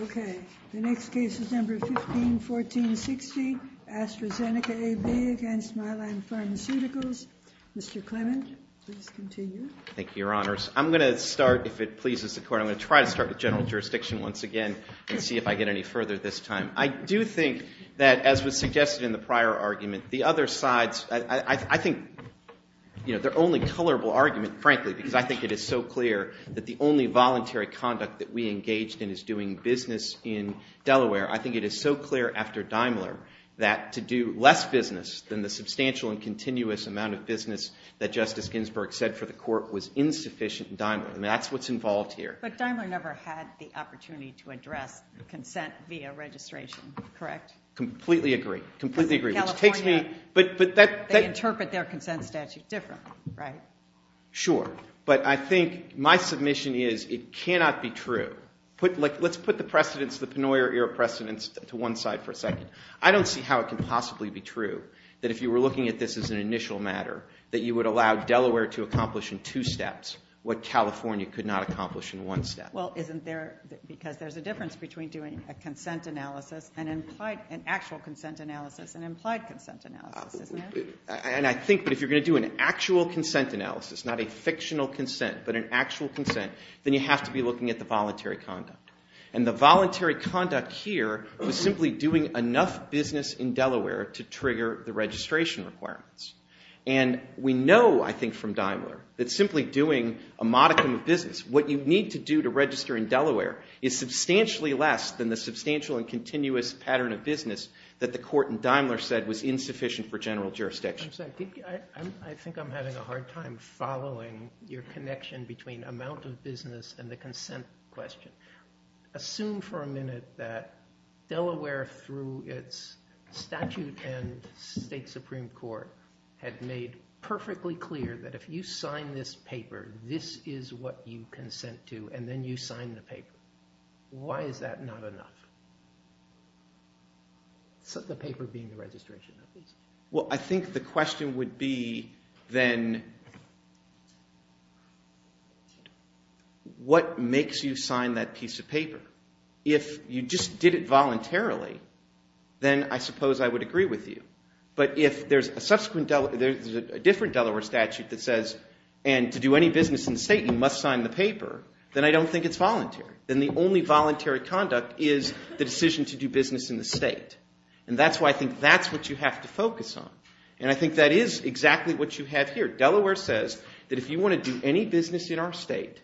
Okay, the next case is number 151460, AstraZeneca AB against Mylan Pharmaceuticals. Mr. Clement, please continue. Thank you, Your Honors. I'm going to start, if it pleases the Court, I'm going to try to start with general jurisdiction once again and see if I get any further this time. I do think that, as was suggested in the prior argument, the other sides, I think their only colorable argument, frankly, because I think it is so clear that the only voluntary conduct that we engaged in is doing business in Delaware. I think it is so clear after Daimler that to do less business than the substantial and continuous amount of business that Justice Ginsburg said for the Court was insufficient in Daimler. I mean, that's what's involved here. But Daimler never had the opportunity to address consent via registration, correct? Completely agree. Completely agree. California, they interpret their consent statute differently, right? Sure. But I think my submission is it cannot be true. Let's put the precedents, the Penoyer era precedents to one side for a second. I don't see how it can possibly be true that if you were looking at this as an initial matter that you would allow Delaware to accomplish in two steps what California could not accomplish in one step. Well, isn't there, because there's a difference between doing a consent analysis and implied, an actual consent analysis and implied consent analysis, isn't there? And I think that if you're going to do an actual consent analysis, not a fictional consent, but an actual consent, then you have to be looking at the voluntary conduct. And the voluntary conduct here was simply doing enough business in Delaware to trigger the registration requirements. And we know, I think, from Daimler that simply doing a modicum of business, what you need to do to register in Delaware, is substantially less than the substantial and continuous pattern of business that the court in Daimler said was insufficient for general jurisdiction. I'm sorry. I think I'm having a hard time following your connection between amount of business and the consent question. Assume for a minute that Delaware, through its statute and state Supreme Court, had made perfectly clear that if you sign this paper, this is what you consent to, and then you sign the paper. Why is that not enough? The paper being the registration, at least. Well, I think the question would be, then, what makes you sign that piece of paper? If you just did it voluntarily, then I suppose I would agree with you. But if there's a different Delaware statute that says, and to do any business in the state, you must sign the paper, then I don't think it's voluntary. Then the only voluntary conduct is the decision to do business in the state. And that's why I think that's what you have to focus on. And I think that is exactly what you have here. Delaware says that if you want to do any business in our state,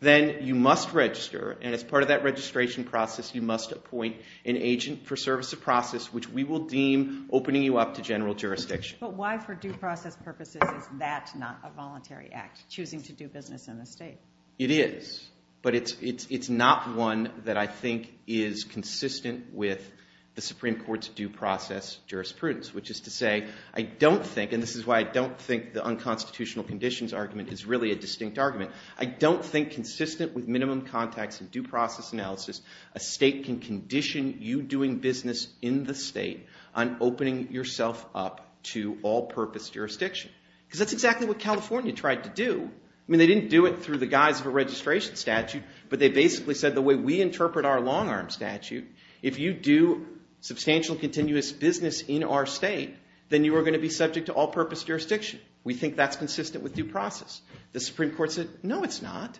then you must register. And as part of that registration process, you must appoint an agent for service of process, which we will deem opening you up to general jurisdiction. But why, for due process purposes, is that not a voluntary act, choosing to do business in the state? It is. But it's not one that I think is consistent with the Supreme Court's due process jurisprudence, which is to say, I don't think, and this is why I don't think the unconstitutional conditions argument is really a distinct argument, I don't think consistent with minimum context and due process analysis, a state can condition you doing business in the state on opening yourself up to all-purpose jurisdiction. Because that's exactly what California tried to do. I mean, they didn't do it through the guise of a registration statute, but they basically said the way we interpret our long-arm statute, if you do substantial continuous business in our state, then you are going to be subject to all-purpose jurisdiction. We think that's consistent with due process. The Supreme Court said, no, it's not.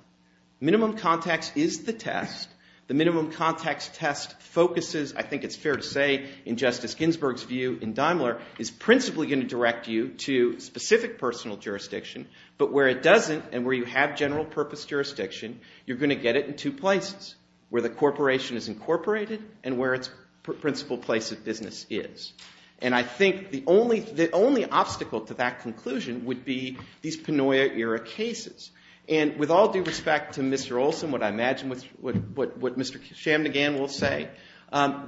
Minimum context is the test. The minimum context test focuses, I think it's fair to say, in Justice Ginsburg's view in Daimler, is principally going to direct you to specific personal jurisdiction. But where it doesn't, and where you have general-purpose jurisdiction, you're going to get it in two places, where the corporation is incorporated and where its principal place of business is. And I think the only obstacle to that conclusion would be these Panoia-era cases. And with all due respect to Mr. Olson, what I imagine what Mr. Chamdegian will say,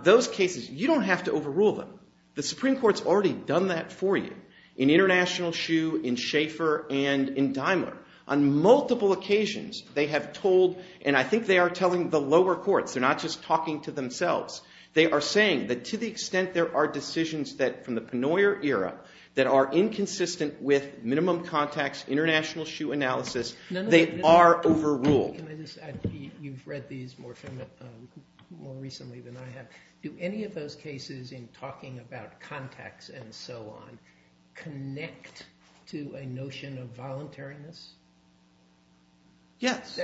those cases, you don't have to overrule them. The Supreme Court's already done that for you in International Shoe, in Schaefer, and in Daimler. On multiple occasions, they have told, and I think they are telling the lower courts, they're not just talking to themselves. They are saying that to the extent there are decisions from the Panoia era that are inconsistent with minimum context, international shoe analysis, they are overruled. Can I just add, you've read these more recently than I have. Do any of those cases in talking about context and so on, connect to a notion of voluntariness? Yes.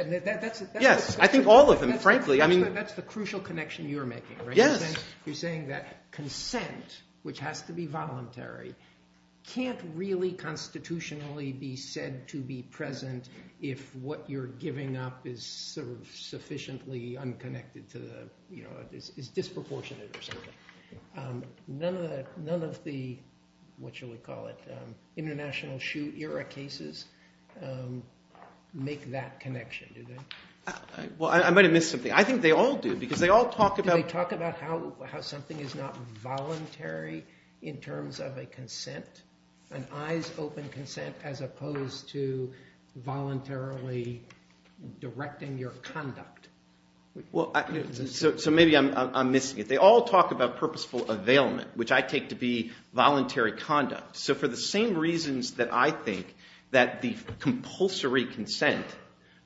Yes, I think all of them, frankly. That's the crucial connection you're making, right? Yes. You're saying that consent, which has to be voluntary, can't really constitutionally be said to be present if what you're giving up is sufficiently unconnected to the, you know, is disproportionate or something. None of the, what shall we call it, international shoe era cases make that connection, do they? Well, I might have missed something. I think they all do, because they all talk about- how something is not voluntary in terms of a consent, an eyes-open consent as opposed to voluntarily directing your conduct. Well, so maybe I'm missing it. They all talk about purposeful availment, which I take to be voluntary conduct. So for the same reasons that I think that the compulsory consent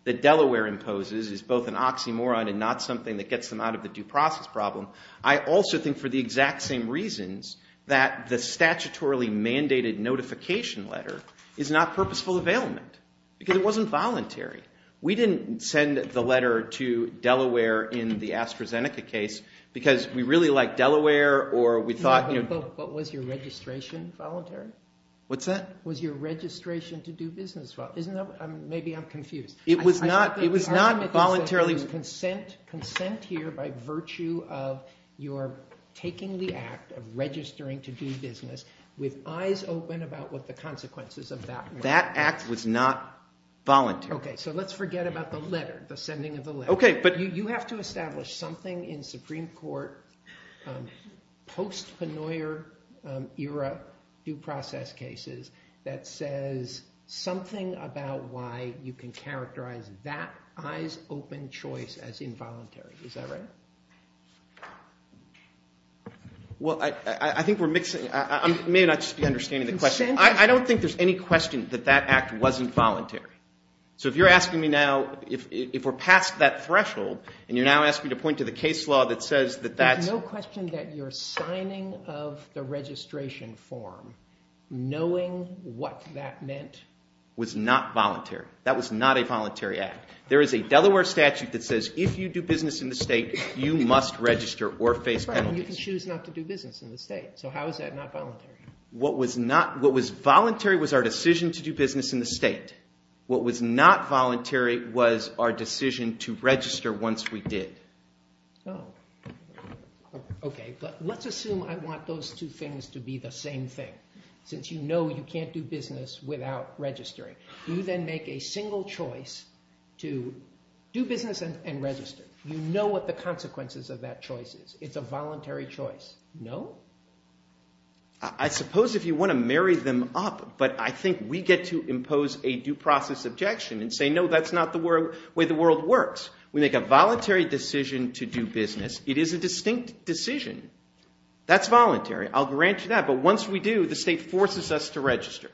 that Delaware imposes is both an oxymoron and not something that gets them out of the due process problem, I also think for the exact same reasons that the statutorily mandated notification letter is not purposeful availment, because it wasn't voluntary. We didn't send the letter to Delaware in the AstraZeneca case because we really like Delaware or we thought, you know- But was your registration voluntary? What's that? Was your registration to do business, well, isn't that- maybe I'm confused. It was not voluntarily- You're taking the act of registering to do business with eyes open about what the consequences of that were. That act was not voluntary. Okay, so let's forget about the letter, the sending of the letter. Okay, but- You have to establish something in Supreme Court post-Pennoyer era due process cases that says something about why you can characterize that eyes-open choice as involuntary. Is that right? Well, I think we're mixing- I may not just be understanding the question. I don't think there's any question that that act wasn't voluntary. So if you're asking me now, if we're past that threshold and you're now asking me to point to the case law that says that that's- There's no question that your signing of the registration form, knowing what that meant- Was not voluntary. That was not a voluntary act. There is a Delaware statute that says if you do business in the state, you must register or face penalties. Right, and you can choose not to do business in the state. So how is that not voluntary? What was voluntary was our decision to do business in the state. What was not voluntary was our decision to register once we did. Okay, but let's assume I want those two things to be the same thing. Since you know you can't do business without registering. You then make a single choice to do business and register. You know what the consequences of that choice is. It's a voluntary choice. No? I suppose if you want to marry them up, but I think we get to impose a due process objection and say, no, that's not the way the world works. We make a voluntary decision to do business. It is a distinct decision. That's voluntary. I'll grant you that. But once we do, the state forces us to register.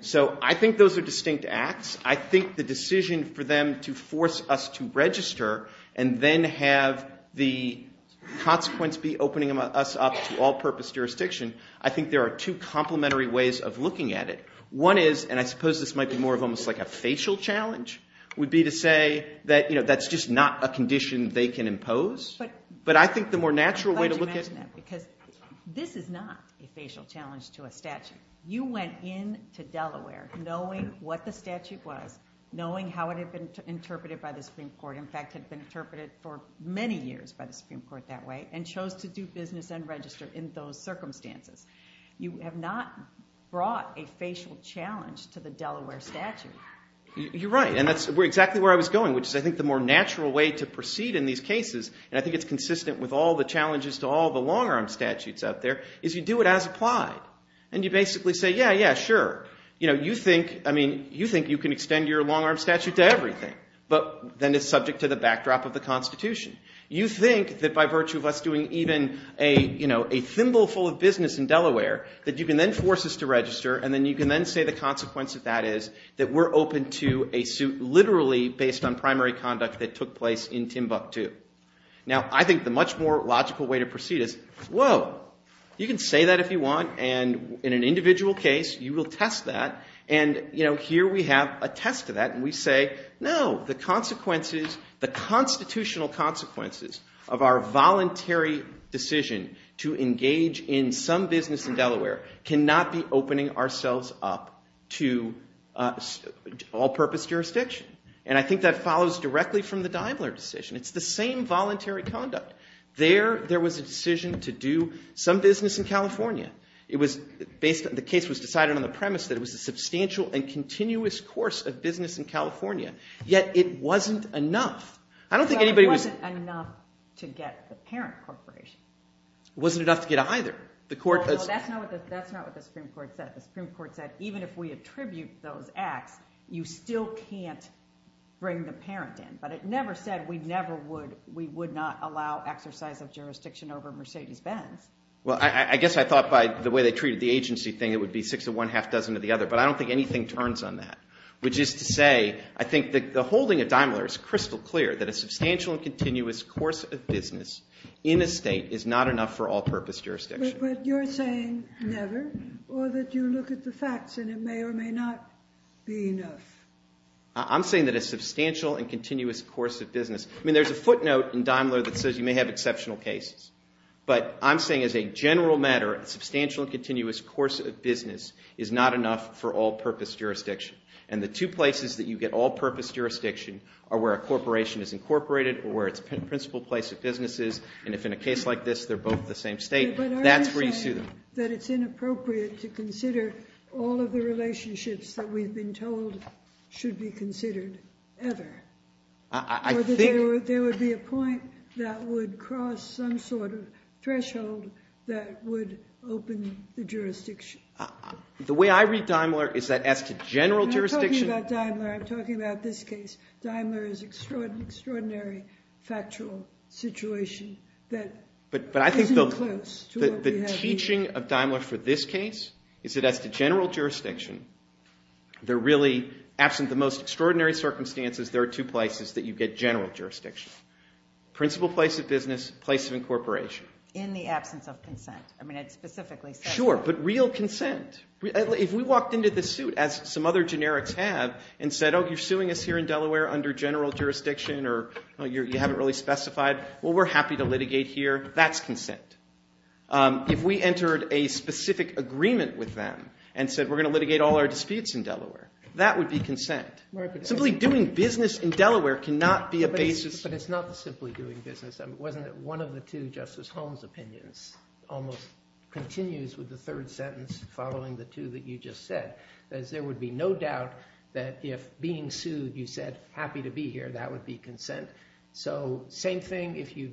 So I think those are distinct acts. I think the decision for them to force us to register and then have the consequence be opening us up to all-purpose jurisdiction, I think there are two complementary ways of looking at it. One is, and I suppose this might be more of almost like a facial challenge, would be to say that that's just not a condition they can impose. But I think the more natural way to look at it. Because this is not a facial challenge to a statute. You went in to Delaware knowing what the statute was, knowing how it had been interpreted by the Supreme Court, in fact, had been interpreted for many years by the Supreme Court that way, and chose to do business and register in those circumstances. You have not brought a facial challenge to the Delaware statute. You're right. And that's exactly where I was going, which is, I think, the more natural way to proceed in these cases. And I think it's consistent with all the challenges to all the long-arm statutes out there, is you do it as applied. And you basically say, yeah, yeah, sure. You know, you think, I mean, you think you can extend your long-arm statute to everything, but then it's subject to the backdrop of the Constitution. You think that by virtue of us doing even a thimble full of business in Delaware, that you can then force us to register, and then you can then say the consequence of that is that we're open to a suit literally based on primary conduct that took place in Timbuktu. Now, I think the much more logical way to proceed is, whoa, you can say that if you want, and in an individual case, you will test that. And here we have a test of that. And we say, no, the constitutional consequences of our voluntary decision to engage in some business in Delaware cannot be opening ourselves up to all-purpose jurisdiction. And I think that follows directly from the Daimler decision. It's the same voluntary conduct. There was a decision to do some business in California. The case was decided on the premise that it was a substantial and continuous course of business in California. Yet, it wasn't enough. I don't think anybody was- It wasn't enough to get the parent corporation. Wasn't enough to get either. The court- That's not what the Supreme Court said. The Supreme Court said, even if we attribute those acts, you still can't bring the parent in. But it never said we would not allow exercise of jurisdiction over Mercedes-Benz. Well, I guess I thought by the way they treated the agency thing, it would be six of one, half dozen of the other. But I don't think anything turns on that. Which is to say, I think that the holding of Daimler is crystal clear that a substantial and continuous course of business in a state is not enough for all-purpose jurisdiction. But you're saying never, or that you look at the facts and it may or may not be enough. I'm saying that a substantial and continuous course of business- I mean, there's a footnote in Daimler that says you may have exceptional cases. But I'm saying as a general matter, a substantial and continuous course of business is not enough for all-purpose jurisdiction. And the two places that you get all-purpose jurisdiction are where a corporation is incorporated or where its principal place of business is. And if in a case like this, they're both the same state, that's where you sue them. But are you saying that it's inappropriate to consider all of the relationships that we've been told should be considered ever? I think- Or that there would be a point that would cross some sort of threshold that would open the jurisdiction? The way I read Daimler is that as to general jurisdiction- I'm not talking about Daimler. I'm talking about this case. Daimler is an extraordinary, factual situation that isn't close to what we have here. But I think the teaching of Daimler for this case is that as to general jurisdiction, they're really, absent the most extraordinary circumstances, there are two places that you get general jurisdiction. Principal place of business, place of incorporation. In the absence of consent. I mean, it specifically says- Sure, but real consent. If we walked into the suit, as some other generics have, and said, oh, you're suing us here in Delaware under general jurisdiction, or you haven't really specified, well, we're happy to litigate here. That's consent. If we entered a specific agreement with them, and said, we're going to litigate all our disputes in Delaware, that would be consent. Simply doing business in Delaware cannot be a basis- But it's not simply doing business. Wasn't it one of the two Justice Holmes opinions almost continues with the third sentence, following the two that you just said. That is, there would be no doubt that if being sued, you said, happy to be here, that would be consent. So same thing if you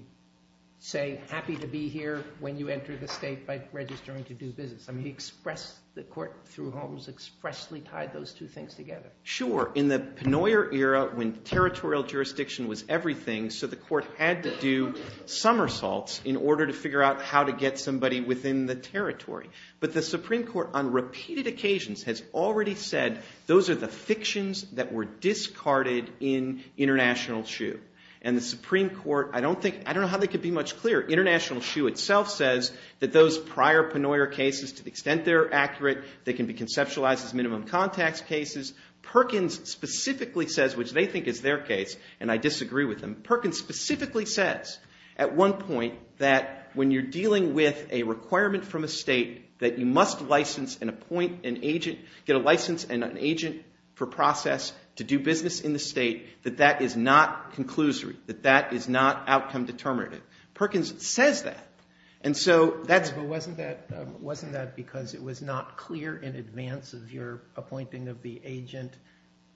say, happy to be here when you enter the state by registering to do business. I mean, the court, through Holmes, expressly tied those two things together. Sure, in the Penoyer era, when territorial jurisdiction was everything, so the court had to do somersaults in order to figure out how to get somebody within the territory. But the Supreme Court, on repeated occasions, has already said, those are the fictions that were discarded in international shoe. And the Supreme Court, I don't think, I don't know how they could be much clearer. International shoe itself says that those prior Penoyer cases, to the extent they're accurate, they can be conceptualized as minimum contacts cases. Perkins specifically says, which they think is their case, and I disagree with them, Perkins specifically says at one point that when you're dealing with a requirement from a state that you must license and appoint an agent, get a license and an agent for process to do business in the state, that that is not conclusory, that that is not outcome determinative. Perkins says that. And so that's. But wasn't that because it was not clear in advance of your appointing of the agent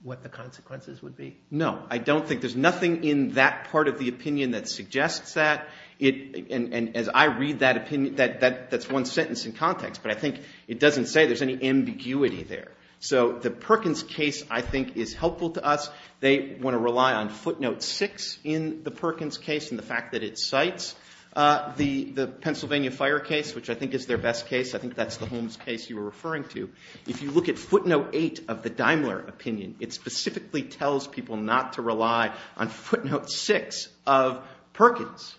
what the consequences would be? No, I don't think. There's nothing in that part of the opinion that suggests that. And as I read that opinion, that's one sentence in context. But I think it doesn't say there's any ambiguity there. So the Perkins case, I think, is helpful to us. They want to rely on footnote six in the Perkins case and the fact that it cites the Pennsylvania fire case, which I think is their best case. I think that's the Holmes case you were referring to. If you look at footnote eight of the Daimler opinion, it specifically tells people not to rely on footnote six of Perkins.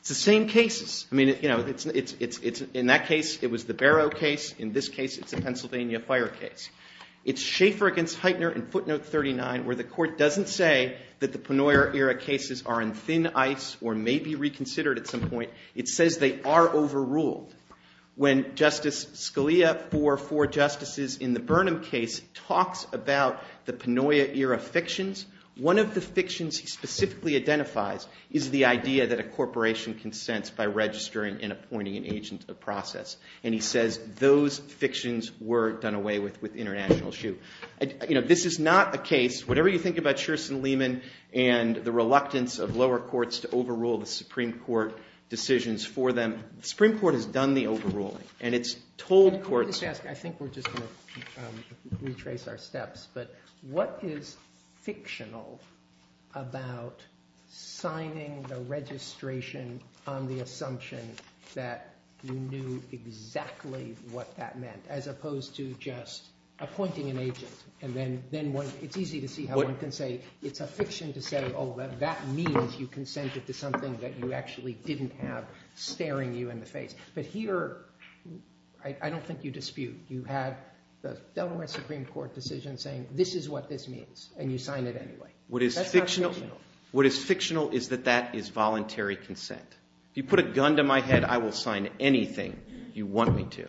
It's the same cases. I mean, in that case, it was the Barrow case. In this case, it's the Pennsylvania fire case. It's Schaefer against Heitner in footnote 39 where the court doesn't say that the Panoia era cases are in thin ice or may be reconsidered at some point. It says they are overruled. When Justice Scalia, for four justices in the Burnham case, talks about the Panoia era fictions, one of the fictions he specifically identifies is the idea that a corporation consents by registering and appointing an agent of process. And he says those fictions were done away with with international shoe. This is not a case, whatever you think about Sherston-Lehman and the reluctance of lower courts to overrule the Supreme Court decisions for them, the Supreme Court has done the overruling. And it's told courts. I think we're just going to retrace our steps. But what is fictional about signing the registration on the assumption that you knew exactly what that meant as opposed to just appointing an agent? And then it's easy to see how one can say it's a fiction to say, oh, that means you consented to something that you actually didn't have staring you in the face. But here, I don't think you dispute. You had the Delaware Supreme Court decision saying, this is what this means. And you signed it anyway. That's not fictional. What is fictional is that that is voluntary consent. If you put a gun to my head, I will sign anything you want me to.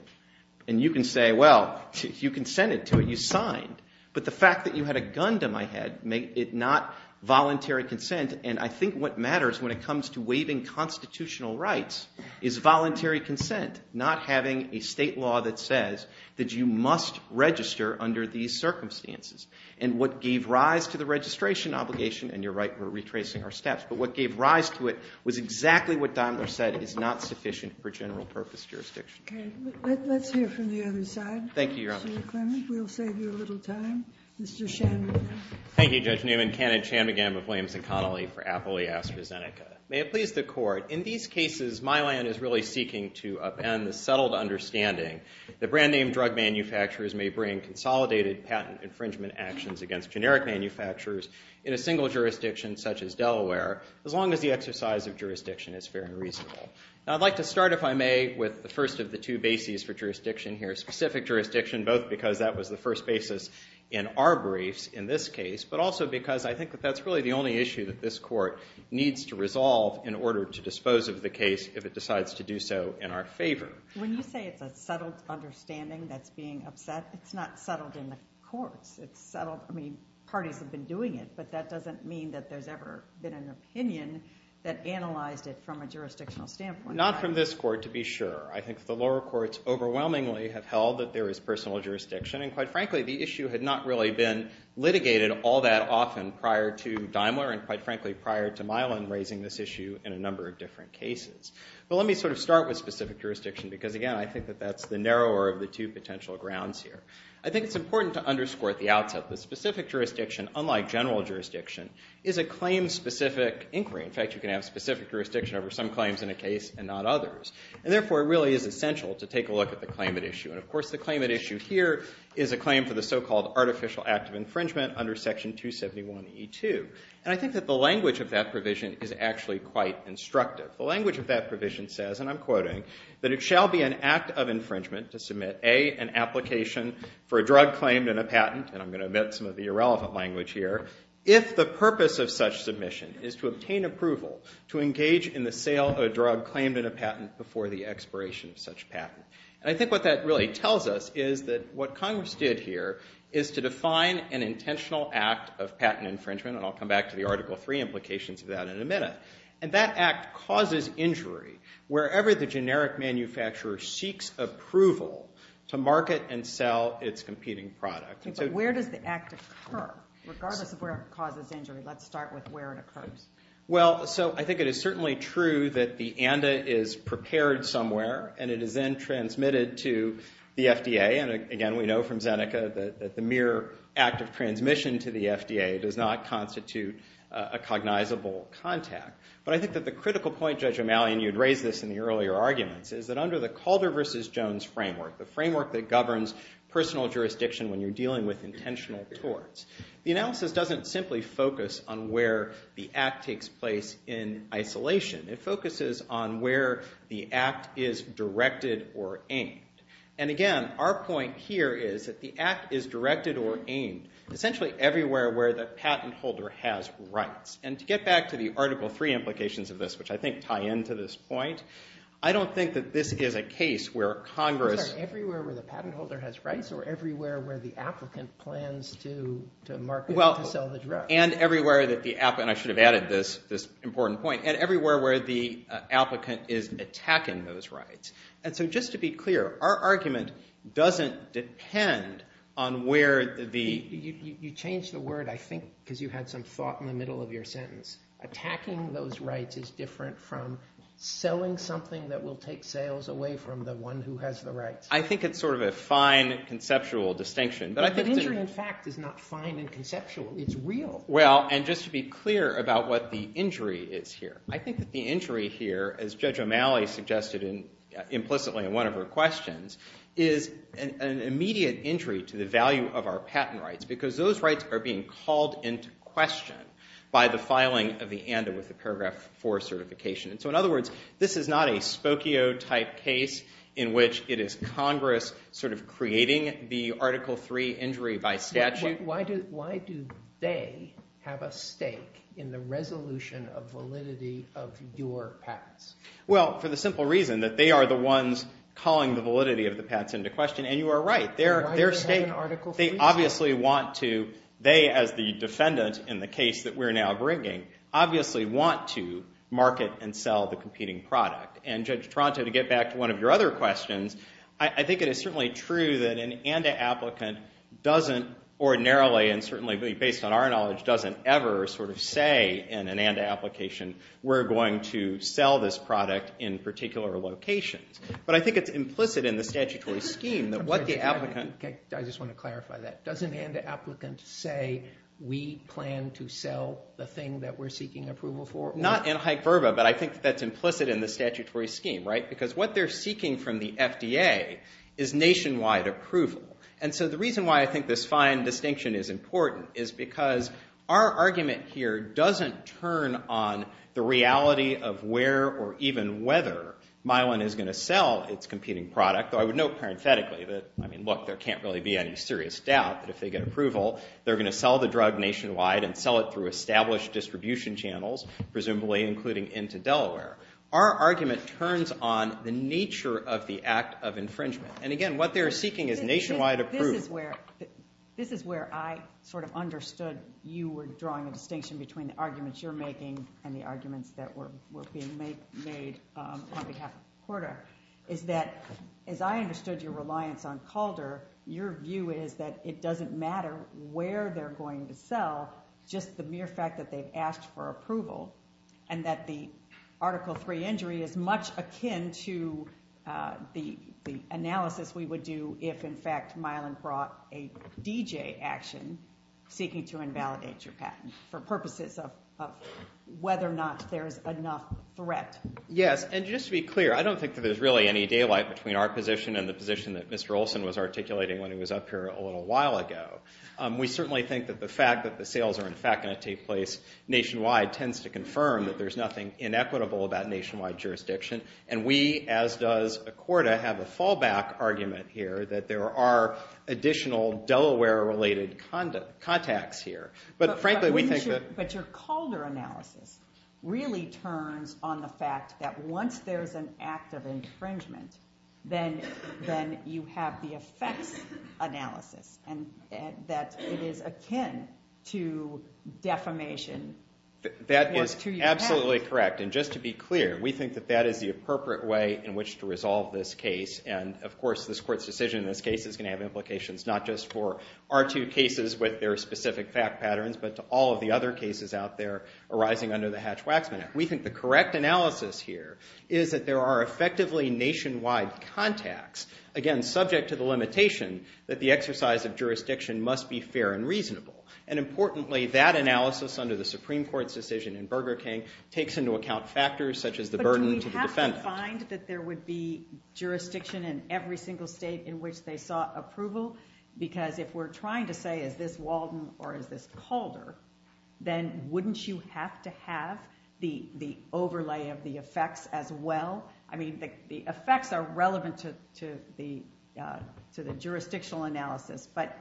And you can say, well, you consented to it. You signed. But the fact that you had a gun to my head made it not voluntary consent. And I think what matters when it comes to waiving constitutional rights is voluntary consent, not having a state law that says that you must register under these circumstances. And what gave rise to the registration obligation, and you're right, we're retracing our steps. But what gave rise to it was exactly what Daimler said is not sufficient for general purpose jurisdiction. Let's hear from the other side. Thank you, Your Honor. Mr. McClemmon, we'll save you a little time. Mr. Shanmugam. Thank you, Judge Newman. Kenneth Shanmugam of Williams and Connolly for Appley AstraZeneca. May it please the court, in these cases, Mylan is really seeking to upend the settled understanding that brand name drug manufacturers may bring consolidated patent infringement actions against generic manufacturers in a single jurisdiction, such as Delaware, as long as the exercise of jurisdiction is fair and reasonable. I'd like to start, if I may, with the first of the two bases for jurisdiction here, specific jurisdiction, both because that was the first basis in our briefs in this case, but also because I think that that's really the only issue that this court needs to resolve in order to dispose of the case if it decides to do so in our favor. When you say it's a settled understanding that's being upset, it's not settled in the courts. It's settled, I mean, parties have been doing it, but that doesn't mean that there's ever been an opinion that analyzed it from a jurisdictional standpoint. Not from this court, to be sure. I think the lower courts overwhelmingly have held that there is personal jurisdiction. And quite frankly, the issue had not really been litigated all that often prior to Daimler, and quite frankly, prior to Mylan raising this issue in a number of different cases. But let me sort of start with specific jurisdiction because, again, I think that that's the narrower of the two potential grounds here. I think it's important to underscore at the outset that specific jurisdiction, unlike general jurisdiction, is a claim-specific inquiry. In fact, you can have specific jurisdiction over some claims in a case and not others. And therefore, it really is essential to take a look at the claimant issue. And of course, the claimant issue here is a claim for the so-called artificial act of infringement under Section 271E2. And I think that the language of that provision is actually quite instructive. The language of that provision says, and I'm quoting, to submit, A, an application for a drug claim and a patent. And I'm going to omit some of the irrelevant language here. If the purpose of such submission is to obtain approval to engage in the sale of a drug claimed in a patent before the expiration of such patent. And I think what that really tells us is that what Congress did here is to define an intentional act of patent infringement. And I'll come back to the Article III implications of that in a minute. And that act causes injury wherever the generic manufacturer seeks approval to market and sell its competing product. Where does the act occur? Regardless of where it causes injury, let's start with where it occurs. Well, so I think it is certainly true that the ANDA is prepared somewhere, and it is then transmitted to the FDA. And again, we know from Zeneca that the mere act of transmission to the FDA does not constitute a cognizable contact. But I think that the critical point, Judge O'Malley, and you'd raise this in the earlier arguments, is that under the Calder versus Jones framework, the framework that governs personal jurisdiction when you're dealing with intentional torts, the analysis doesn't simply focus on where the act takes place in isolation. It focuses on where the act is directed or aimed. And again, our point here is that the act is directed or aimed essentially everywhere where the patent holder has rights. And to get back to the Article III implications of this, which I think tie into this point, I don't think that this is a case where Congress- Everywhere where the patent holder has rights or everywhere where the applicant plans to market and to sell the drug. And everywhere that the applicant- and I should have added this important point- and everywhere where the applicant is attacking those rights. And so just to be clear, our argument doesn't depend on where the- You changed the word, I think, because you had some thought in the middle of your sentence. Attacking those rights is different from selling something that will take sales away from the one who has the rights. I think it's sort of a fine, conceptual distinction. But I think- But injury, in fact, is not fine and conceptual. It's real. Well, and just to be clear about what the injury is here, I think that the injury here, as Judge O'Malley suggested implicitly in one of her questions, is an immediate injury to the value of our patent rights. Because those rights are being called into question by the filing of the ANDA with the Paragraph IV certification. And so in other words, this is not a Spokio-type case in which it is Congress sort of creating the Article III injury by statute. Why do they have a stake in the resolution of validity of your patents? Well, for the simple reason that they are the ones calling the validity of the patents into question. And you are right. Their stake- Why do they have an Article III stake? They obviously want to, they as the defendant in the case that we're now bringing, obviously want to market and sell the competing product. And Judge Tronto, to get back to one of your other questions, I think it is certainly true that an ANDA applicant doesn't ordinarily, and certainly based on our knowledge, doesn't ever sort of say in an ANDA application, we're going to sell this product in particular locations. But I think it's implicit in the statutory scheme that what the applicant- I just want to clarify that. Doesn't ANDA applicants say, we plan to sell the thing that we're seeking approval for? Not in hyperbole, but I think that's Because what they're seeking from the FDA is nationwide approval. And so the reason why I think this fine distinction is important is because our argument here doesn't turn on the reality of where or even whether Myelin is going to sell its competing product. Though I would note parenthetically that, I mean, look, there can't really be any serious doubt that if they get approval, they're going to sell the drug nationwide and sell it through established distribution channels, presumably including into Delaware. Our argument turns on the nature of the act of infringement. And again, what they're seeking is nationwide approval. This is where I sort of understood you were drawing a distinction between the arguments you're making and the arguments that were being made on behalf of Porter, is that, as I understood your reliance on Calder, your view is that it doesn't matter where they're going to sell, just the mere fact that they've asked for approval and that the Article III injury is much akin to the analysis we would do if, in fact, Myelin brought a DJ action seeking to invalidate your patent for purposes of whether or not there is enough threat. Yes, and just to be clear, I don't think that there's really any daylight between our position and the position that Mr. Olson was articulating when he was up here a little while ago. We certainly think that the fact that the sales are, in fact, going to take place nationwide tends to confirm that there's nothing inequitable about nationwide jurisdiction. And we, as does Accorda, have a fallback argument here that there are additional Delaware-related contacts here. But frankly, we think that- But your Calder analysis really turns on the fact that once there is an act of infringement, then you have the effects analysis, and that it is akin to defamation. That is absolutely correct. And just to be clear, we think that that is the appropriate way in which to resolve this case. And of course, this Court's decision in this case is going to have implications not just for R2 cases with their specific fact patterns, but to all of the other cases out there arising under the Hatch-Waxman Act. We think the correct analysis here is that there are effectively nationwide contacts, again, subject to the limitation that the exercise of jurisdiction must be fair and reasonable. And importantly, that analysis under the Supreme Court's decision in Burger King takes into account factors such as the burden to the defendant. But do we have to find that there would be jurisdiction in every single state in which they sought approval? Because if we're trying to say, is this Walden or is this Calder, then wouldn't you have to have the overlay of the effects as well? I mean, the effects are relevant to the jurisdictional analysis. But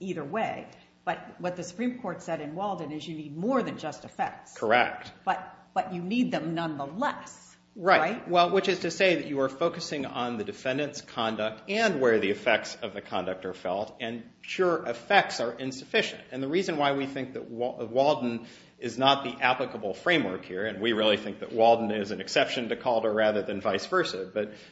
either way, but what the Supreme Court said in Walden is you need more than just effects. Correct. But you need them nonetheless, right? Well, which is to say that you are focusing on the defendant's conduct and where the effects of the conduct are felt. And sure, effects are insufficient. And the reason why we think that Walden is not the applicable framework here, and we really think that Walden is an exception to Calder rather than vice versa,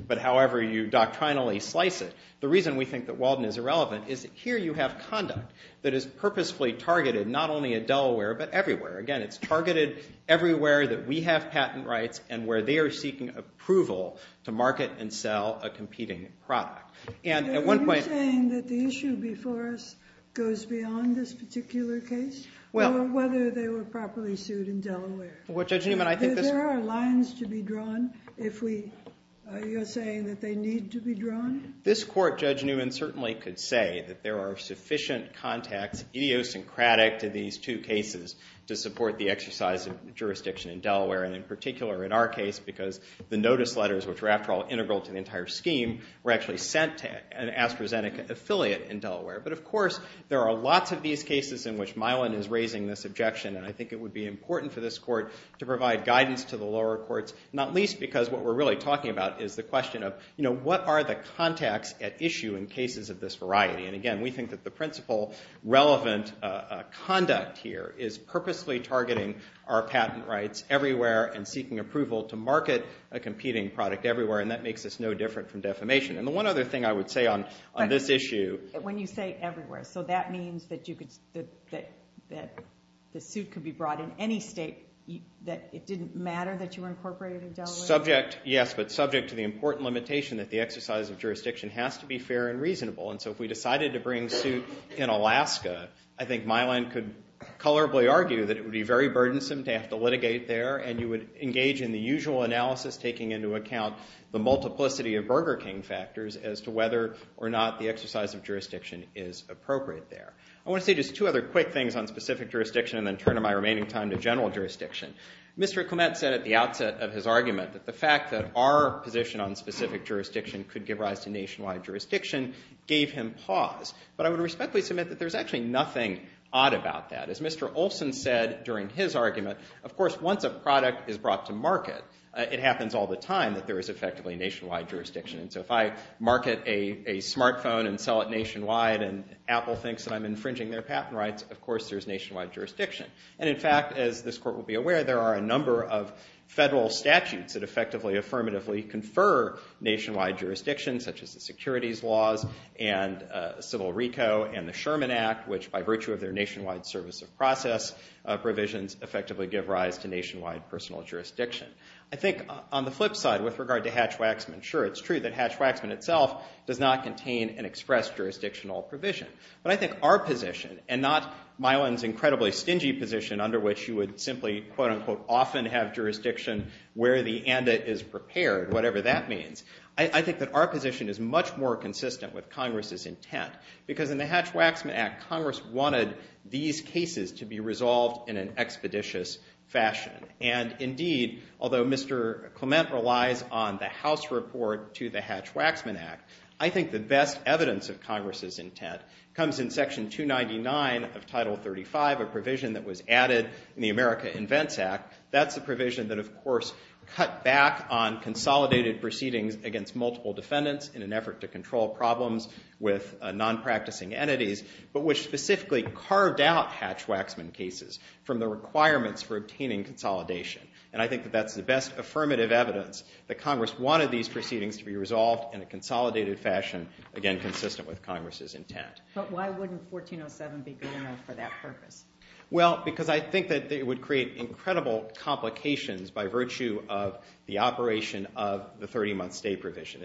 but however you doctrinally slice it, the reason we think that Walden is irrelevant is that here you have conduct that is purposefully targeted not only at Delaware, but everywhere. Again, it's targeted everywhere that we have patent rights and where they are seeking approval to market and sell a competing product. And at one point- Are you saying that the issue before us goes beyond this particular case? Well- Or whether they were properly sued in Delaware? Well, Judge Newman, I think this- Are there lines to be drawn if we- you're saying that they need to be drawn? This court, Judge Newman, certainly could say that there are sufficient contacts, idiosyncratic to these two cases, to support the exercise of jurisdiction in Delaware. And in particular, in our case, because the notice letters, which were after all integral to the entire scheme, were actually sent to an AstraZeneca affiliate in Delaware. But of course, there are lots of these cases in which Milan is raising this objection. And I think it would be important for this court to provide guidance to the lower courts, not least because what we're really talking about is the question of, what are the contacts at issue in cases of this variety? And again, we think that the principal relevant conduct here is purposely targeting our patent rights everywhere and seeking approval to market a competing product everywhere. And that makes us no different from defamation. And the one other thing I would say on this issue- When you say everywhere, so that means that the suit could be brought in any state, that it didn't matter that you were incorporated in Delaware? Yes, but subject to the important limitation that the exercise of jurisdiction has to be fair and reasonable. And so if we decided to bring suit in Alaska, I think Milan could colorably argue that it would be very burdensome to have to litigate there. And you would engage in the usual analysis, taking into account the multiplicity of Burger King factors as to whether or not the exercise of jurisdiction is appropriate there. I want to say just two other quick things on specific jurisdiction, and then turn in my remaining time to general jurisdiction. Mr. Clement said at the outset of his argument that the fact that our position on specific jurisdiction could give rise to nationwide jurisdiction gave him pause. But I would respectfully submit that there's actually nothing odd about that. As Mr. Olson said during his argument, of course, once a product is brought to market, it happens all the time that there is effectively nationwide jurisdiction. And so if I market a smartphone and sell it nationwide, and Apple thinks that I'm infringing their patent rights, of course, there's nationwide jurisdiction. And in fact, as this court will be aware, there are a number of federal statutes that effectively, affirmatively confer nationwide jurisdiction, such as the securities laws, and Civil RICO, and the Sherman Act, which by virtue of their nationwide service of process provisions, effectively give rise to nationwide personal jurisdiction. I think on the flip side, with regard to Hatch-Waxman, sure, it's true that Hatch-Waxman itself does not contain an express jurisdictional provision. But I think our position, and not Mylan's incredibly stingy position, under which you would simply, quote unquote, often have jurisdiction where the and it is prepared, whatever that means. I think that our position is much more consistent with Congress's intent. Because in the Hatch-Waxman Act, Congress wanted these cases to be resolved in an expeditious fashion. And indeed, although Mr. Clement relies on the House report to the Hatch-Waxman Act, I think the best evidence of Congress's intent comes in section 299 of Title 35, a provision that was added in the America Invents Act. That's a provision that, of course, cut back on consolidated proceedings against multiple defendants in an effort to control problems with non-practicing entities, but which specifically carved out Hatch-Waxman cases from the requirements for obtaining consolidation. And I think that that's the best affirmative evidence that Congress wanted these proceedings to be resolved in a consolidated fashion, again, consistent with Congress's intent. But why wouldn't 1407 be good enough for that purpose? Well, because I think that it would create incredible complications by virtue of the operation of the 30-month stay provision.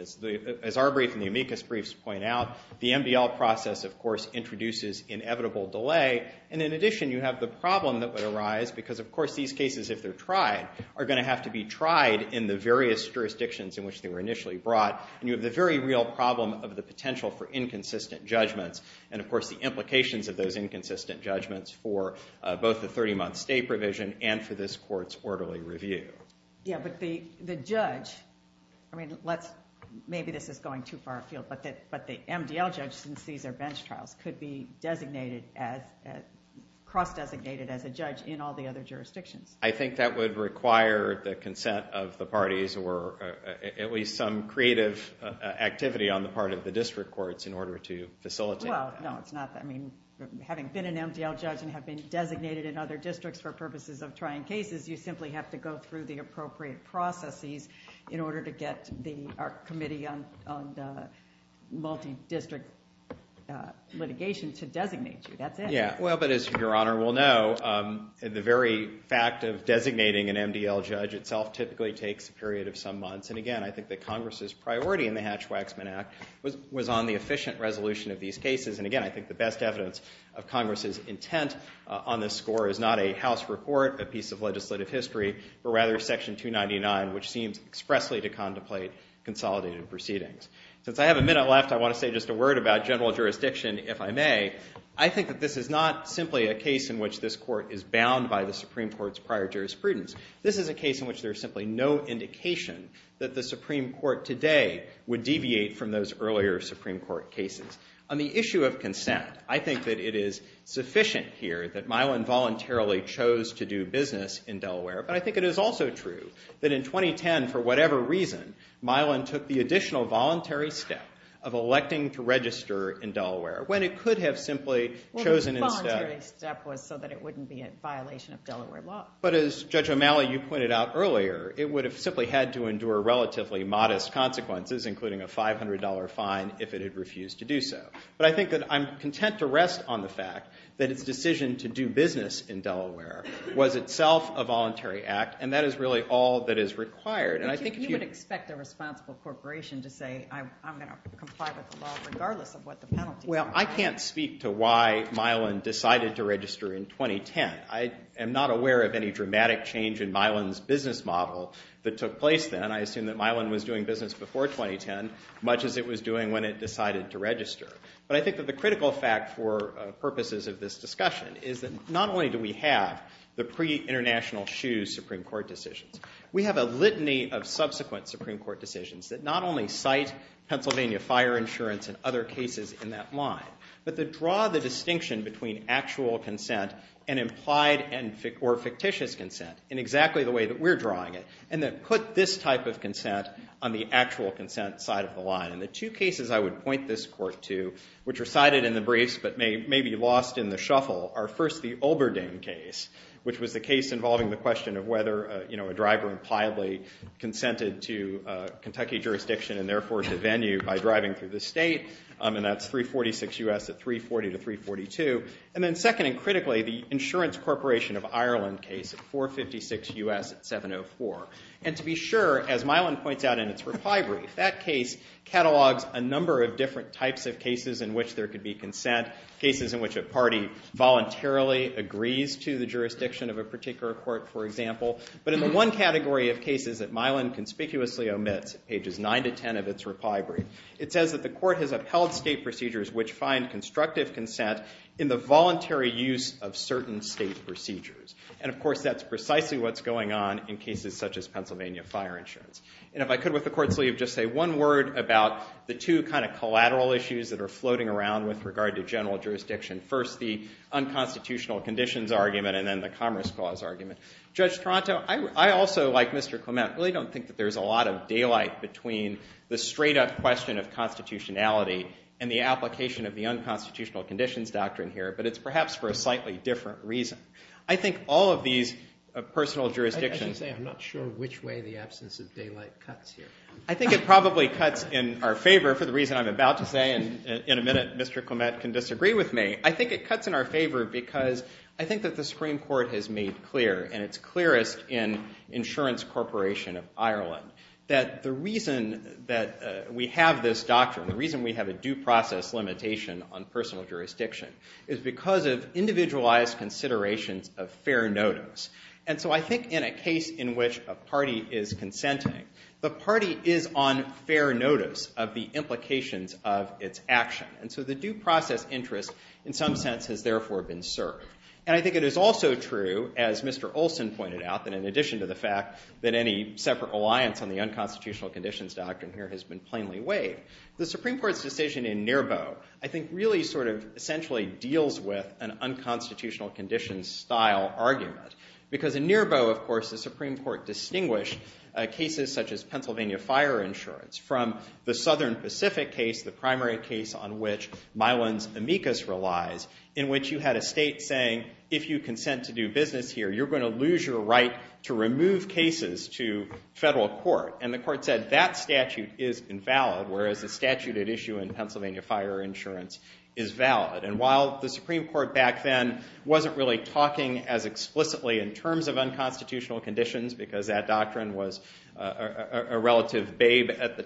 As our brief and the amicus briefs point out, the MDL process, of course, introduces inevitable delay. And in addition, you have the problem that would arise because, of course, these cases, if they're tried, are going to have to be tried in the various jurisdictions in which they were initially brought. And you have the very real problem of the potential for inconsistent judgments and, of course, the implications of those inconsistent judgments for both the 30-month stay provision and for this court's quarterly review. Yeah, but the judge, I mean, maybe this is going too far afield, but the MDL judge, since these are bench trials, could be cross-designated as a judge in all the other jurisdictions. I think that would require the consent of the parties or at least some creative activity on the part of the district courts in order to facilitate. Well, no, it's not. I mean, having been an MDL judge and have been designated in other districts for purposes of trying cases, you simply have to go through the appropriate processes in order to get the committee on the multi-district litigation to designate you. That's it. Yeah, well, but as Your Honor will know, the very fact of designating an MDL judge itself typically takes a period of some months. And again, I think that Congress's priority in the Hatch-Waxman Act was on the efficient resolution of these cases. And again, I think the best evidence of Congress's intent on this score is not a House report, a piece of legislative history, but rather Section 299, which seems expressly to contemplate consolidated proceedings. Since I have a minute left, I want to say just a word about general jurisdiction, if I may. I think that this is not simply a case in which this court is bound by the Supreme Court's prior jurisprudence. This is a case in which there's simply no indication that the Supreme Court today would deviate from those earlier Supreme Court cases. On the issue of consent, I think that it is sufficient here that Mylan voluntarily chose to do business in Delaware. But I think it is also true that in 2010, for whatever reason, Mylan took the additional voluntary step of electing to register in Delaware, when it could have simply chosen instead. Well, the voluntary step was so that it wouldn't be a violation of Delaware law. But as Judge O'Malley, you pointed out earlier, it would have simply had to endure relatively modest consequences, including a $500 fine if it had refused to do so. But I think that I'm content to rest on the fact that its decision to do business in Delaware was itself a voluntary act. And that is really all that is required. And I think if you would expect a responsible corporation to say, I'm going to comply with the law, regardless of what the penalty is. Well, I can't speak to why Mylan decided to register in 2010. I am not aware of any dramatic change in Mylan's business model that took place then. And I assume that Mylan was doing business before 2010, much as it was doing when it decided to register. But I think that the critical fact for purposes of this discussion is that not only do we have the pre-International Shoes Supreme Court decisions, we have a litany of subsequent Supreme Court decisions that not only cite Pennsylvania fire insurance and other cases in that line, but that draw the distinction between actual consent and implied or fictitious consent in exactly the way that we're drawing it. And that put this type of consent on the actual consent side of the line. And the two cases I would point this court to, which are cited in the briefs but may be lost in the shuffle, are first the Olberding case, which was the case involving the question of whether a driver impliably consented to Kentucky jurisdiction and therefore to venue by driving through the state. And that's 346 US at 340 to 342. And then second and critically, the Insurance Corporation of Ireland case at 456 US at 704. And to be sure, as Mylan points out in its reply brief, that case catalogs a number of different types of cases in which there could be consent, cases in which a party voluntarily agrees to the jurisdiction of a particular court, for example. But in the one category of cases that Mylan conspicuously omits, pages 9 to 10 of its reply brief, it says that the court has upheld state procedures which find constructive consent in the voluntary use of certain state procedures. And of course, that's precisely what's going on in cases such as Pennsylvania fire insurance. And if I could, with the court's leave, just say one word about the two kind of collateral issues that are floating around with regard to general jurisdiction. First, the unconstitutional conditions argument, and then the commerce clause argument. Judge Toronto, I also, like Mr. Clement, really don't think that there's a lot of daylight between the straight-up question of constitutionality and the application of the unconstitutional conditions doctrine here. But it's perhaps for a slightly different reason. I think all of these personal jurisdictions. I should say, I'm not sure which way the absence of daylight cuts here. I think it probably cuts in our favor, for the reason I'm about to say. And in a minute, Mr. Clement can disagree with me. I think it cuts in our favor because I think that the Supreme Court has made clear, and it's clearest in Insurance Corporation of Ireland, that the reason that we have this doctrine, the reason we have a due process limitation on personal jurisdiction, is because of individualized considerations of fair notice. And so I think in a case in which a party is consenting, the party is on fair notice of the implications of its action. And so the due process interest, in some sense, has therefore been served. And I think it is also true, as Mr. Olson pointed out, that in addition to the fact that any separate alliance on the unconstitutional conditions doctrine here has been plainly waived, the Supreme Court's decision in NIRBO, I think, really sort of essentially deals with an unconstitutional conditions style argument. Because in NIRBO, of course, the Supreme Court distinguished cases such as Pennsylvania fire insurance from the Southern Pacific case, the primary case on which Mylan's amicus relies, in which you had a state saying, if you consent to do business here, you're going to lose your right to remove cases to federal court. And the court said, that statute is invalid, whereas the statute at issue in Pennsylvania fire insurance is valid. And while the Supreme Court back then wasn't really talking as explicitly in terms of unconstitutional conditions, because that doctrine was a relative babe at the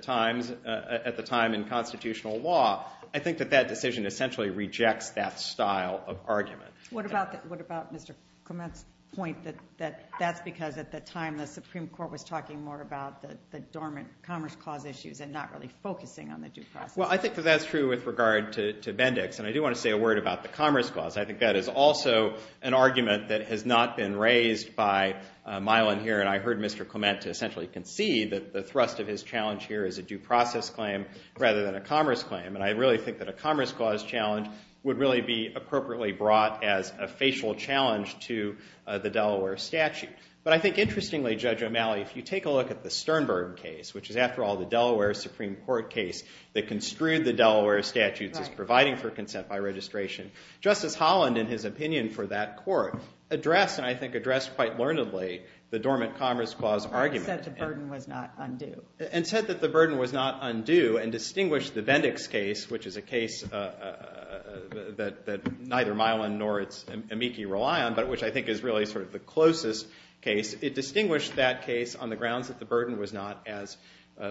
time in constitutional law, I think that that decision essentially rejects that style of argument. What about Mr. Clement's point that that's because at the time, the Supreme Court was talking more about the dormant Commerce Clause issues and not really focusing on the due process? Well, I think that that's true with regard to Bendix. And I do want to say a word about the Commerce Clause. I think that is also an argument that has not been raised by Mylan here. And I heard Mr. Clement essentially concede that the thrust of his challenge here is a due process claim rather than a Commerce Claim. And I really think that a Commerce Clause challenge would really be appropriately brought as a facial challenge to the Delaware statute. But I think interestingly, Judge O'Malley, if you take a look at the Sternberg case, which is, after all, the Delaware Supreme Court case that construed the Delaware statutes as providing for consent by registration, Justice Holland, in his opinion for that court, addressed, and I think addressed quite learnedly, the dormant Commerce Clause argument. And said the burden was not undue. And said that the burden was not undue and distinguished the Bendix case, which is a case that neither Mylan nor its amici rely on, but which I think is really sort of the closest case. It distinguished that case on the grounds that the burden was not as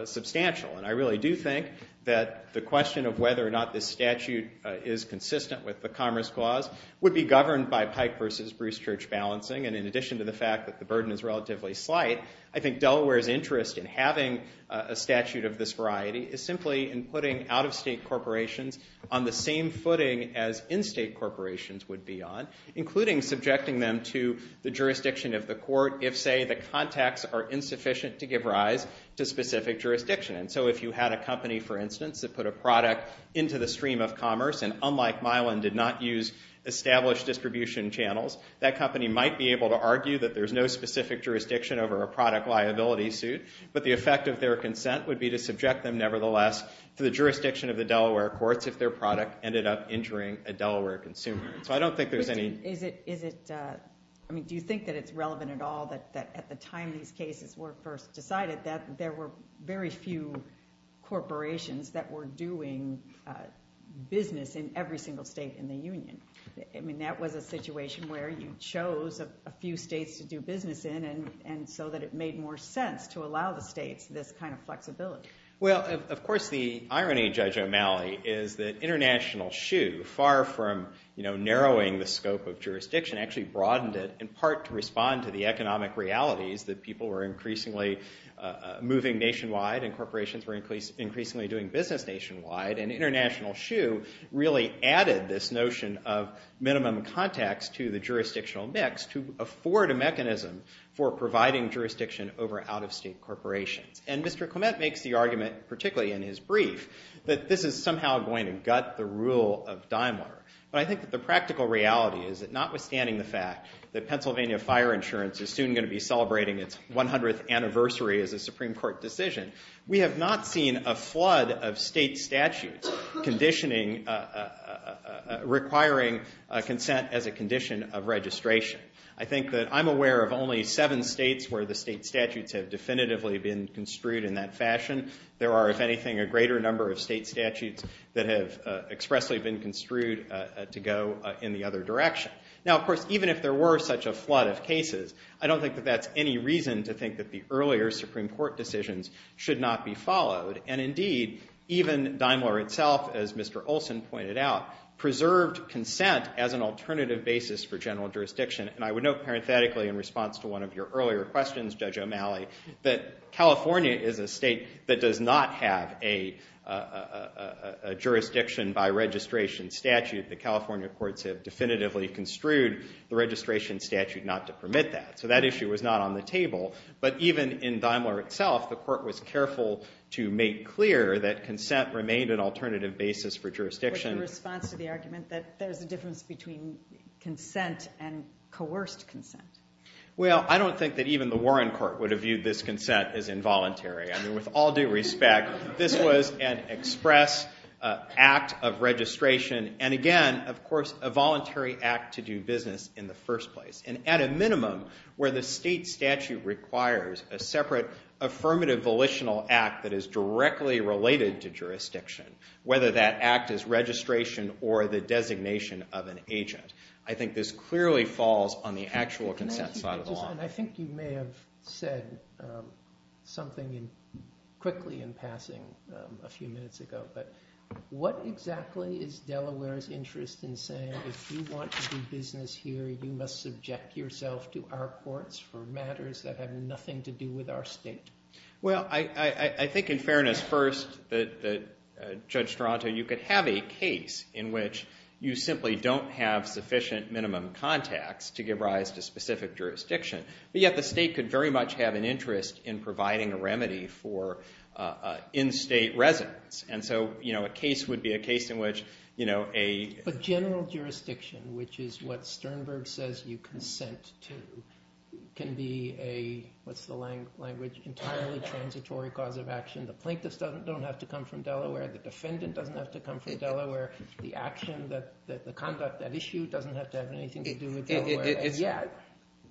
substantial. And I really do think that the question of whether or not this statute is consistent with the Commerce Clause would be governed by Pike versus Bruce Church balancing. And in addition to the fact that the burden is relatively slight, I think Delaware's interest in having a statute of this variety is simply in putting out-of-state corporations on the same footing as in-state corporations would be on, including subjecting them to the jurisdiction of the court if, say, the contacts are insufficient to give rise to specific jurisdiction. And so if you had a company, for instance, that put a product into the stream of commerce and, unlike Mylan, did not use established distribution channels, that company might be able to argue that there's no specific jurisdiction over a product liability suit. But the effect of their consent would be to subject them nevertheless to the jurisdiction of the Delaware courts if their product ended up injuring a Delaware consumer. So I don't think there's any. Is it, I mean, do you think that it's relevant at all that at the time these cases were first decided, that there were very few corporations that were doing business in every single state in the union? I mean, that was a situation where you chose a few states to do business in, and so that it made more sense to allow the states this kind of flexibility. Well, of course, the irony, Judge O'Malley, is that International Shoe, far from narrowing the scope of jurisdiction, actually broadened it, in part, to respond to the economic realities that people were increasingly moving nationwide and corporations were increasingly doing business nationwide. And International Shoe really added this notion of minimum context to the jurisdictional mix to afford a mechanism for providing jurisdiction over out-of-state corporations. And Mr. Clement makes the argument, particularly in his brief, that this is somehow going to gut the rule of Daimler. But I think that the practical reality is that notwithstanding the fact that Pennsylvania fire insurance is soon going to be celebrating its 100th anniversary as a Supreme Court decision, we have not seen a flood of state statutes requiring consent as a condition of registration. I think that I'm aware of only seven states where the state statutes have definitively been construed in that fashion. There are, if anything, a greater number of state statutes that have expressly been construed to go in the other direction. Now, of course, even if there were such a flood of cases, I don't think that that's any reason to think that the earlier Supreme Court decisions should not be followed. And indeed, even Daimler itself, as Mr. Olson pointed out, preserved consent as an alternative basis for general jurisdiction. And I would note, parenthetically, in response to one of your earlier questions, Judge O'Malley, that California is a state that does not have a jurisdiction by registration statute. The California courts have definitively construed the registration statute not to permit that. So that issue was not on the table. But even in Daimler itself, the court was careful to make clear that consent remained an alternative basis for jurisdiction. With the response to the argument that there's a difference between consent and coerced consent. Well, I don't think that even the Warren Court would have viewed this consent as involuntary. I mean, with all due respect, this was an express act of registration. And again, of course, a voluntary act to do business in the first place. And at a minimum, where the state statute requires a separate affirmative volitional act that is directly related to jurisdiction, whether that act is registration or the designation of an agent, I think this clearly falls on the actual consent side of the law. And I think you may have said something quickly in passing a few minutes ago. But what exactly is Delaware's interest in saying if you want to do business here, you must subject yourself to our courts for matters that have nothing to do with our state? Well, I think in fairness first, that Judge Strato, you could have a case in which you simply don't have sufficient minimum contacts to give rise to specific jurisdiction. But yet, the state could very much have an interest in providing a remedy for in-state residents. And so a case would be a case in which a general jurisdiction, which is what Sternberg says you consent to, can be a, what's the language, entirely transitory cause of action. The plaintiffs don't have to come from Delaware. The defendant doesn't have to come from Delaware. The action, the conduct, that issue doesn't have to have anything to do with Delaware. Yet,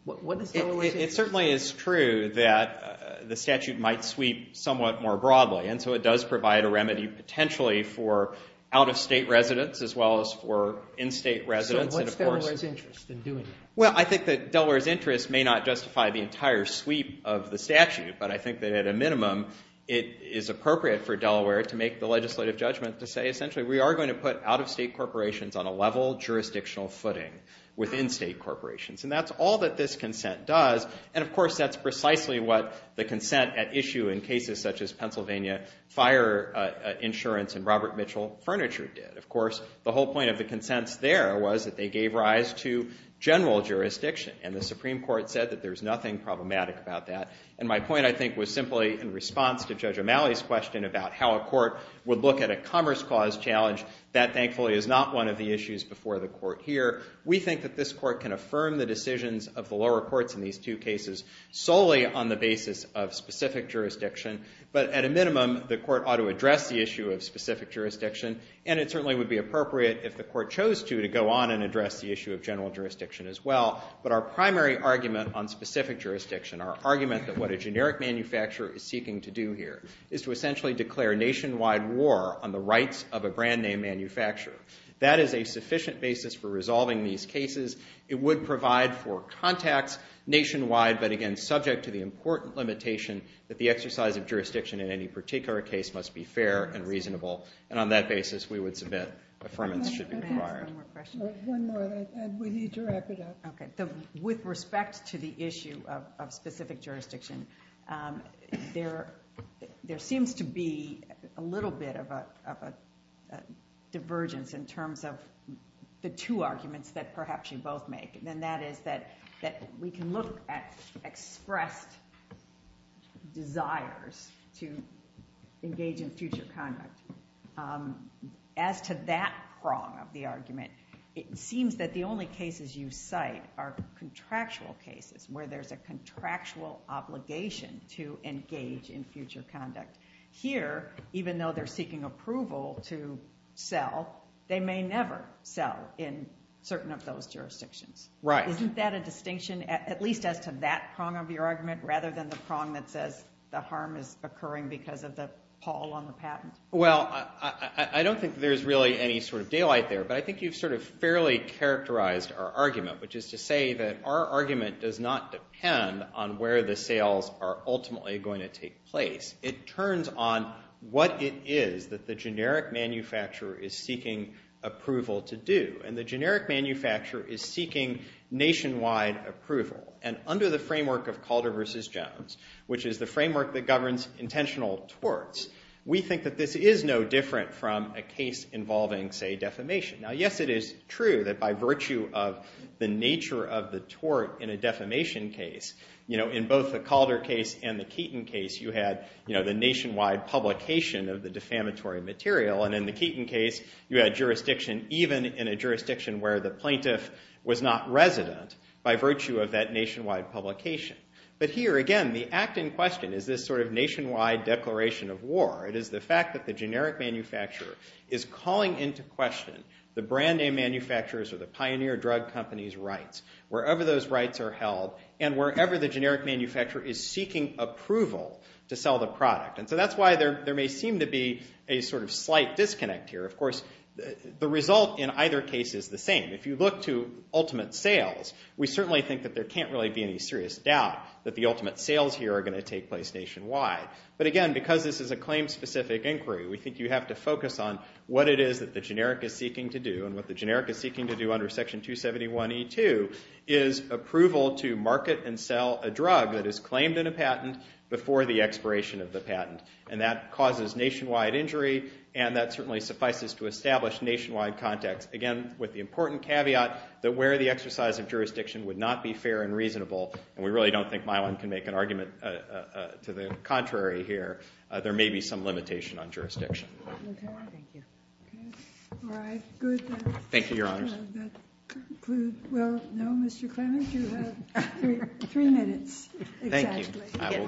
what is Delaware's interest? It certainly is true that the statute might sweep somewhat more broadly. And so it does provide a remedy potentially for out-of-state residents, as well as for in-state residents. So what's Delaware's interest in doing that? Well, I think that Delaware's interest may not justify the entire sweep of the statute. But I think that at a minimum, it is appropriate for Delaware to make the legislative judgment to say, essentially, we are going to put out-of-state corporations on a level jurisdictional footing within state corporations. And that's all that this consent does. And of course, that's precisely what the consent at issue in cases such as Pennsylvania fire insurance and Robert Mitchell furniture did. Of course, the whole point of the consents there was that they gave rise to general jurisdiction. And the Supreme Court said that there's nothing problematic about that. And my point, I think, was simply in response to Judge O'Malley's question about how a court would look at a commerce clause challenge. That, thankfully, is not one of the issues before the court here. We think that this court can affirm the decisions of the lower courts in these two cases solely on the basis of specific jurisdiction. But at a minimum, the court ought to address the issue of specific jurisdiction. And it certainly would be appropriate, if the court chose to, to go on and address the issue of general jurisdiction as well. But our primary argument on specific jurisdiction, our argument that what a generic manufacturer is seeking to do here, is to essentially declare nationwide war on the rights of a brand name manufacturer. That is a sufficient basis for resolving these cases. It would provide for contacts nationwide, but again, subject to the important limitation that the exercise of jurisdiction in any particular case must be fair and reasonable. And on that basis, we would submit affirmance should be required. I'm going to ask one more question. One more. And we need to wrap it up. OK. With respect to the issue of specific jurisdiction, there seems to be a little bit of a divergence in terms of the two arguments that perhaps you both make. And that is that we can look at expressed desires to engage in future conduct. As to that prong of the argument, it seems that the only cases you cite are contractual cases, where there's a contractual obligation to engage in future conduct. Here, even though they're seeking approval to sell, they may never sell in certain of those jurisdictions. Right. Isn't that a distinction, at least as to that prong of your argument, rather than the prong that says the harm is occurring because of the pull on the patent? Well, I don't think there's really any sort of daylight there. But I think you've sort of fairly characterized our argument, which is to say that our argument does not depend on where the sales are ultimately going to take place. It turns on what it is that the generic manufacturer is seeking approval to do. And the generic manufacturer is seeking nationwide approval. And under the framework of Calder versus Jones, which is the framework that governs intentional torts, we think that this is no different from a case involving, say, defamation. Now, yes, it is true that by virtue of the nature of the tort in a defamation case, in both the Calder case and the Keaton case, you had the nationwide publication of the defamatory material. And in the Keaton case, you had jurisdiction even in a jurisdiction where the plaintiff was not resident by virtue of that nationwide publication. But here, again, the act in question is this sort of nationwide declaration of war. It is the fact that the generic manufacturer is calling into question the brand name manufacturers or the pioneer drug company's rights, wherever those rights are held, and wherever the generic manufacturer is seeking approval to sell the product. And so that's why there may seem to be a sort of slight disconnect here. Of course, the result in either case is the same. If you look to ultimate sales, we certainly think that there can't really be any serious doubt that the ultimate sales here are going to take place nationwide. But again, because this is a claim-specific inquiry, we think you have to focus on what it is that the generic is seeking to do and what the generic is seeking to do under Section 271E2 is approval to market and sell a drug that is claimed in a patent before the expiration of the patent. And that causes nationwide injury, and that certainly suffices to establish nationwide context. Again, with the important caveat that where the exercise of jurisdiction would not be fair and reasonable, and we really don't think Mylon can make an argument to the contrary here, there may be some limitation on jurisdiction. OK. Thank you. All right. Good. Thank you, Your Honors. And that concludes. Well, no, Mr. Clement, you have three minutes, exactly. Thank you. I will. Are you getting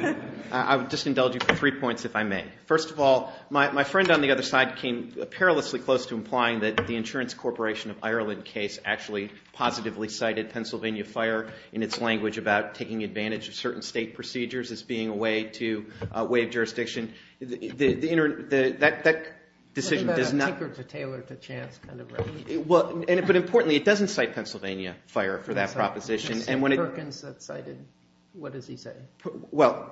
tired? I would just indulge you for three points, if I may. First of all, my friend on the other side came perilously close to implying that the Insurance Corporation of Ireland case actually positively cited Pennsylvania Fire in its language about taking advantage of certain state procedures as being a way to waive jurisdiction. The internet, that decision does not. What about a tinker to tailor to chance kind of regulation? But importantly, it doesn't cite Pennsylvania Fire for that proposition. It's just Perkins that cited, what does he say? Well,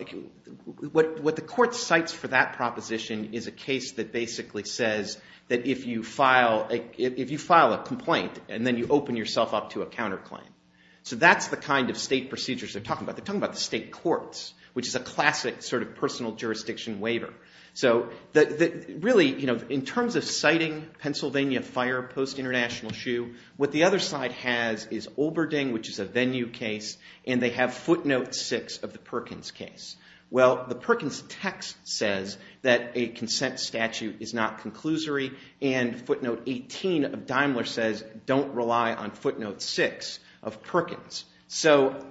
what the court cites for that proposition is a case that basically says that if you file a complaint, and then you open yourself up to a counterclaim. So that's the kind of state procedures they're talking about. They're talking about the state courts, which is a classic sort of personal jurisdiction waiver. So really, in terms of citing Pennsylvania Fire post-International Shoe, what the other side has is Olberding, which is a venue case, and they have footnote six of the Perkins case. Well, the Perkins text says that a consent statute is not conclusory, and footnote 18 of Daimler says don't rely on footnote six of Perkins.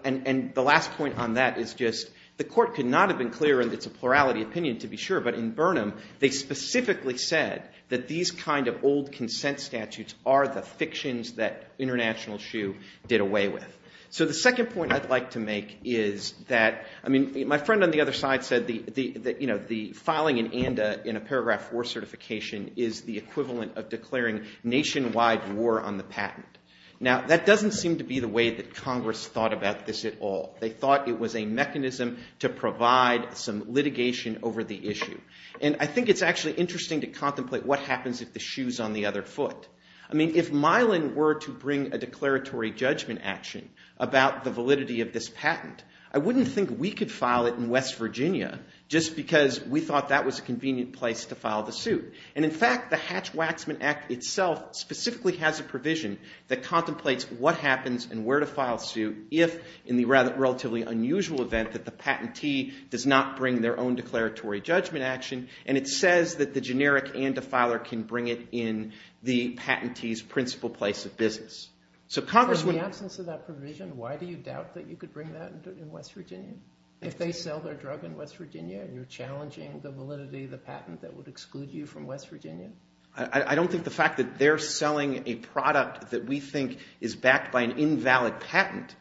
And the last point on that is just the court could not have been clearer, and it's a plurality opinion, to be sure. But in Burnham, they specifically said that these kind of old consent statutes are the fictions that International Shoe did away with. So the second point I'd like to make is that, I mean, my friend on the other side said that the filing in ANDA in a paragraph four certification is the equivalent of declaring nationwide war on the patent. Now, that doesn't seem to be the way that Congress thought about this at all. They thought it was a mechanism to provide some litigation over the issue. And I think it's actually interesting to contemplate what happens if the shoe's on the other foot. I mean, if Mylan were to bring a declaratory judgment action about the validity of this patent, I wouldn't think we could file it in West Virginia just because we thought that was a convenient place to file the suit. And in fact, the Hatch-Waxman Act itself specifically has a provision that contemplates what happens and where to file a suit if, in the relatively unusual event that the patentee does not bring their own declaratory judgment action. And it says that the generic ANDA filer can bring it in the patentee's principal place of business. So Congress wouldn't. In the absence of that provision, why do you doubt that you could bring that in West Virginia? If they sell their drug in West Virginia and you're challenging the validity of the patent that would exclude you from West Virginia? I don't think the fact that they're selling a product that we think is backed by an invalid patent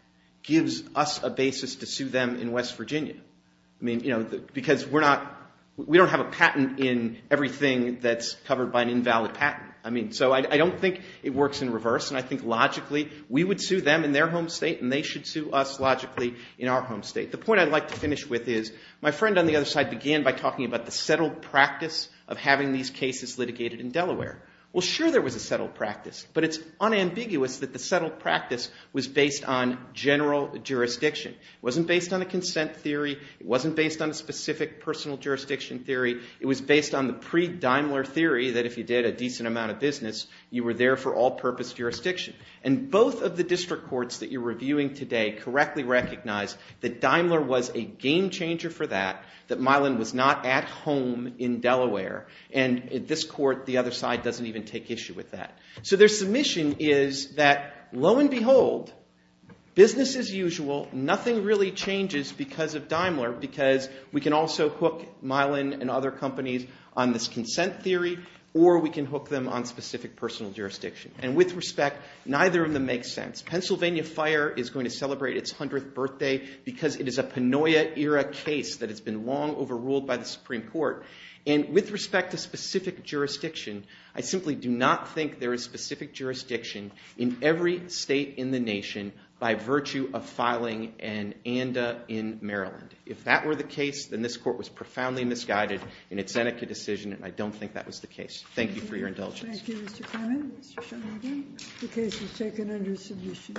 gives us a basis to sue them in West Virginia. I mean, because we don't have a patent in everything that's covered by an invalid patent. I mean, so I don't think it works in reverse. And I think, logically, we would sue them in their home state and they should sue us, logically, in our home state. The point I'd like to finish with is my friend on the other side began by talking about the settled practice of having these cases litigated in Delaware. Well, sure there was a settled practice. But it's unambiguous that the settled practice was based on general jurisdiction. It wasn't based on a consent theory. It wasn't based on a specific personal jurisdiction theory. It was based on the pre-Daimler theory that if you did a decent amount of business, you were there for all purpose jurisdiction. And both of the district courts that you're reviewing today correctly recognize that Daimler was a game changer for that, that Milan was not at home in Delaware. And this court, the other side, doesn't even take issue with that. So their submission is that, lo and behold, business as usual, nothing really changes because of Daimler, because we can also hook Milan and other companies on this consent theory, or we can hook them on specific personal jurisdiction. And with respect, neither of them makes sense. Pennsylvania Fire is going to celebrate its 100th birthday because it is a Panoia-era case that has been long overruled by the Supreme Court. And with respect to specific jurisdiction, I simply do not think there is specific jurisdiction in every state in the nation by virtue of filing an ANDA in Maryland. If that were the case, then this court was profoundly misguided in its Seneca decision, and I don't think that was the case. Thank you for your indulgence. Thank you, Mr. Clement. Mr. Sheldon, the case is taken under submission.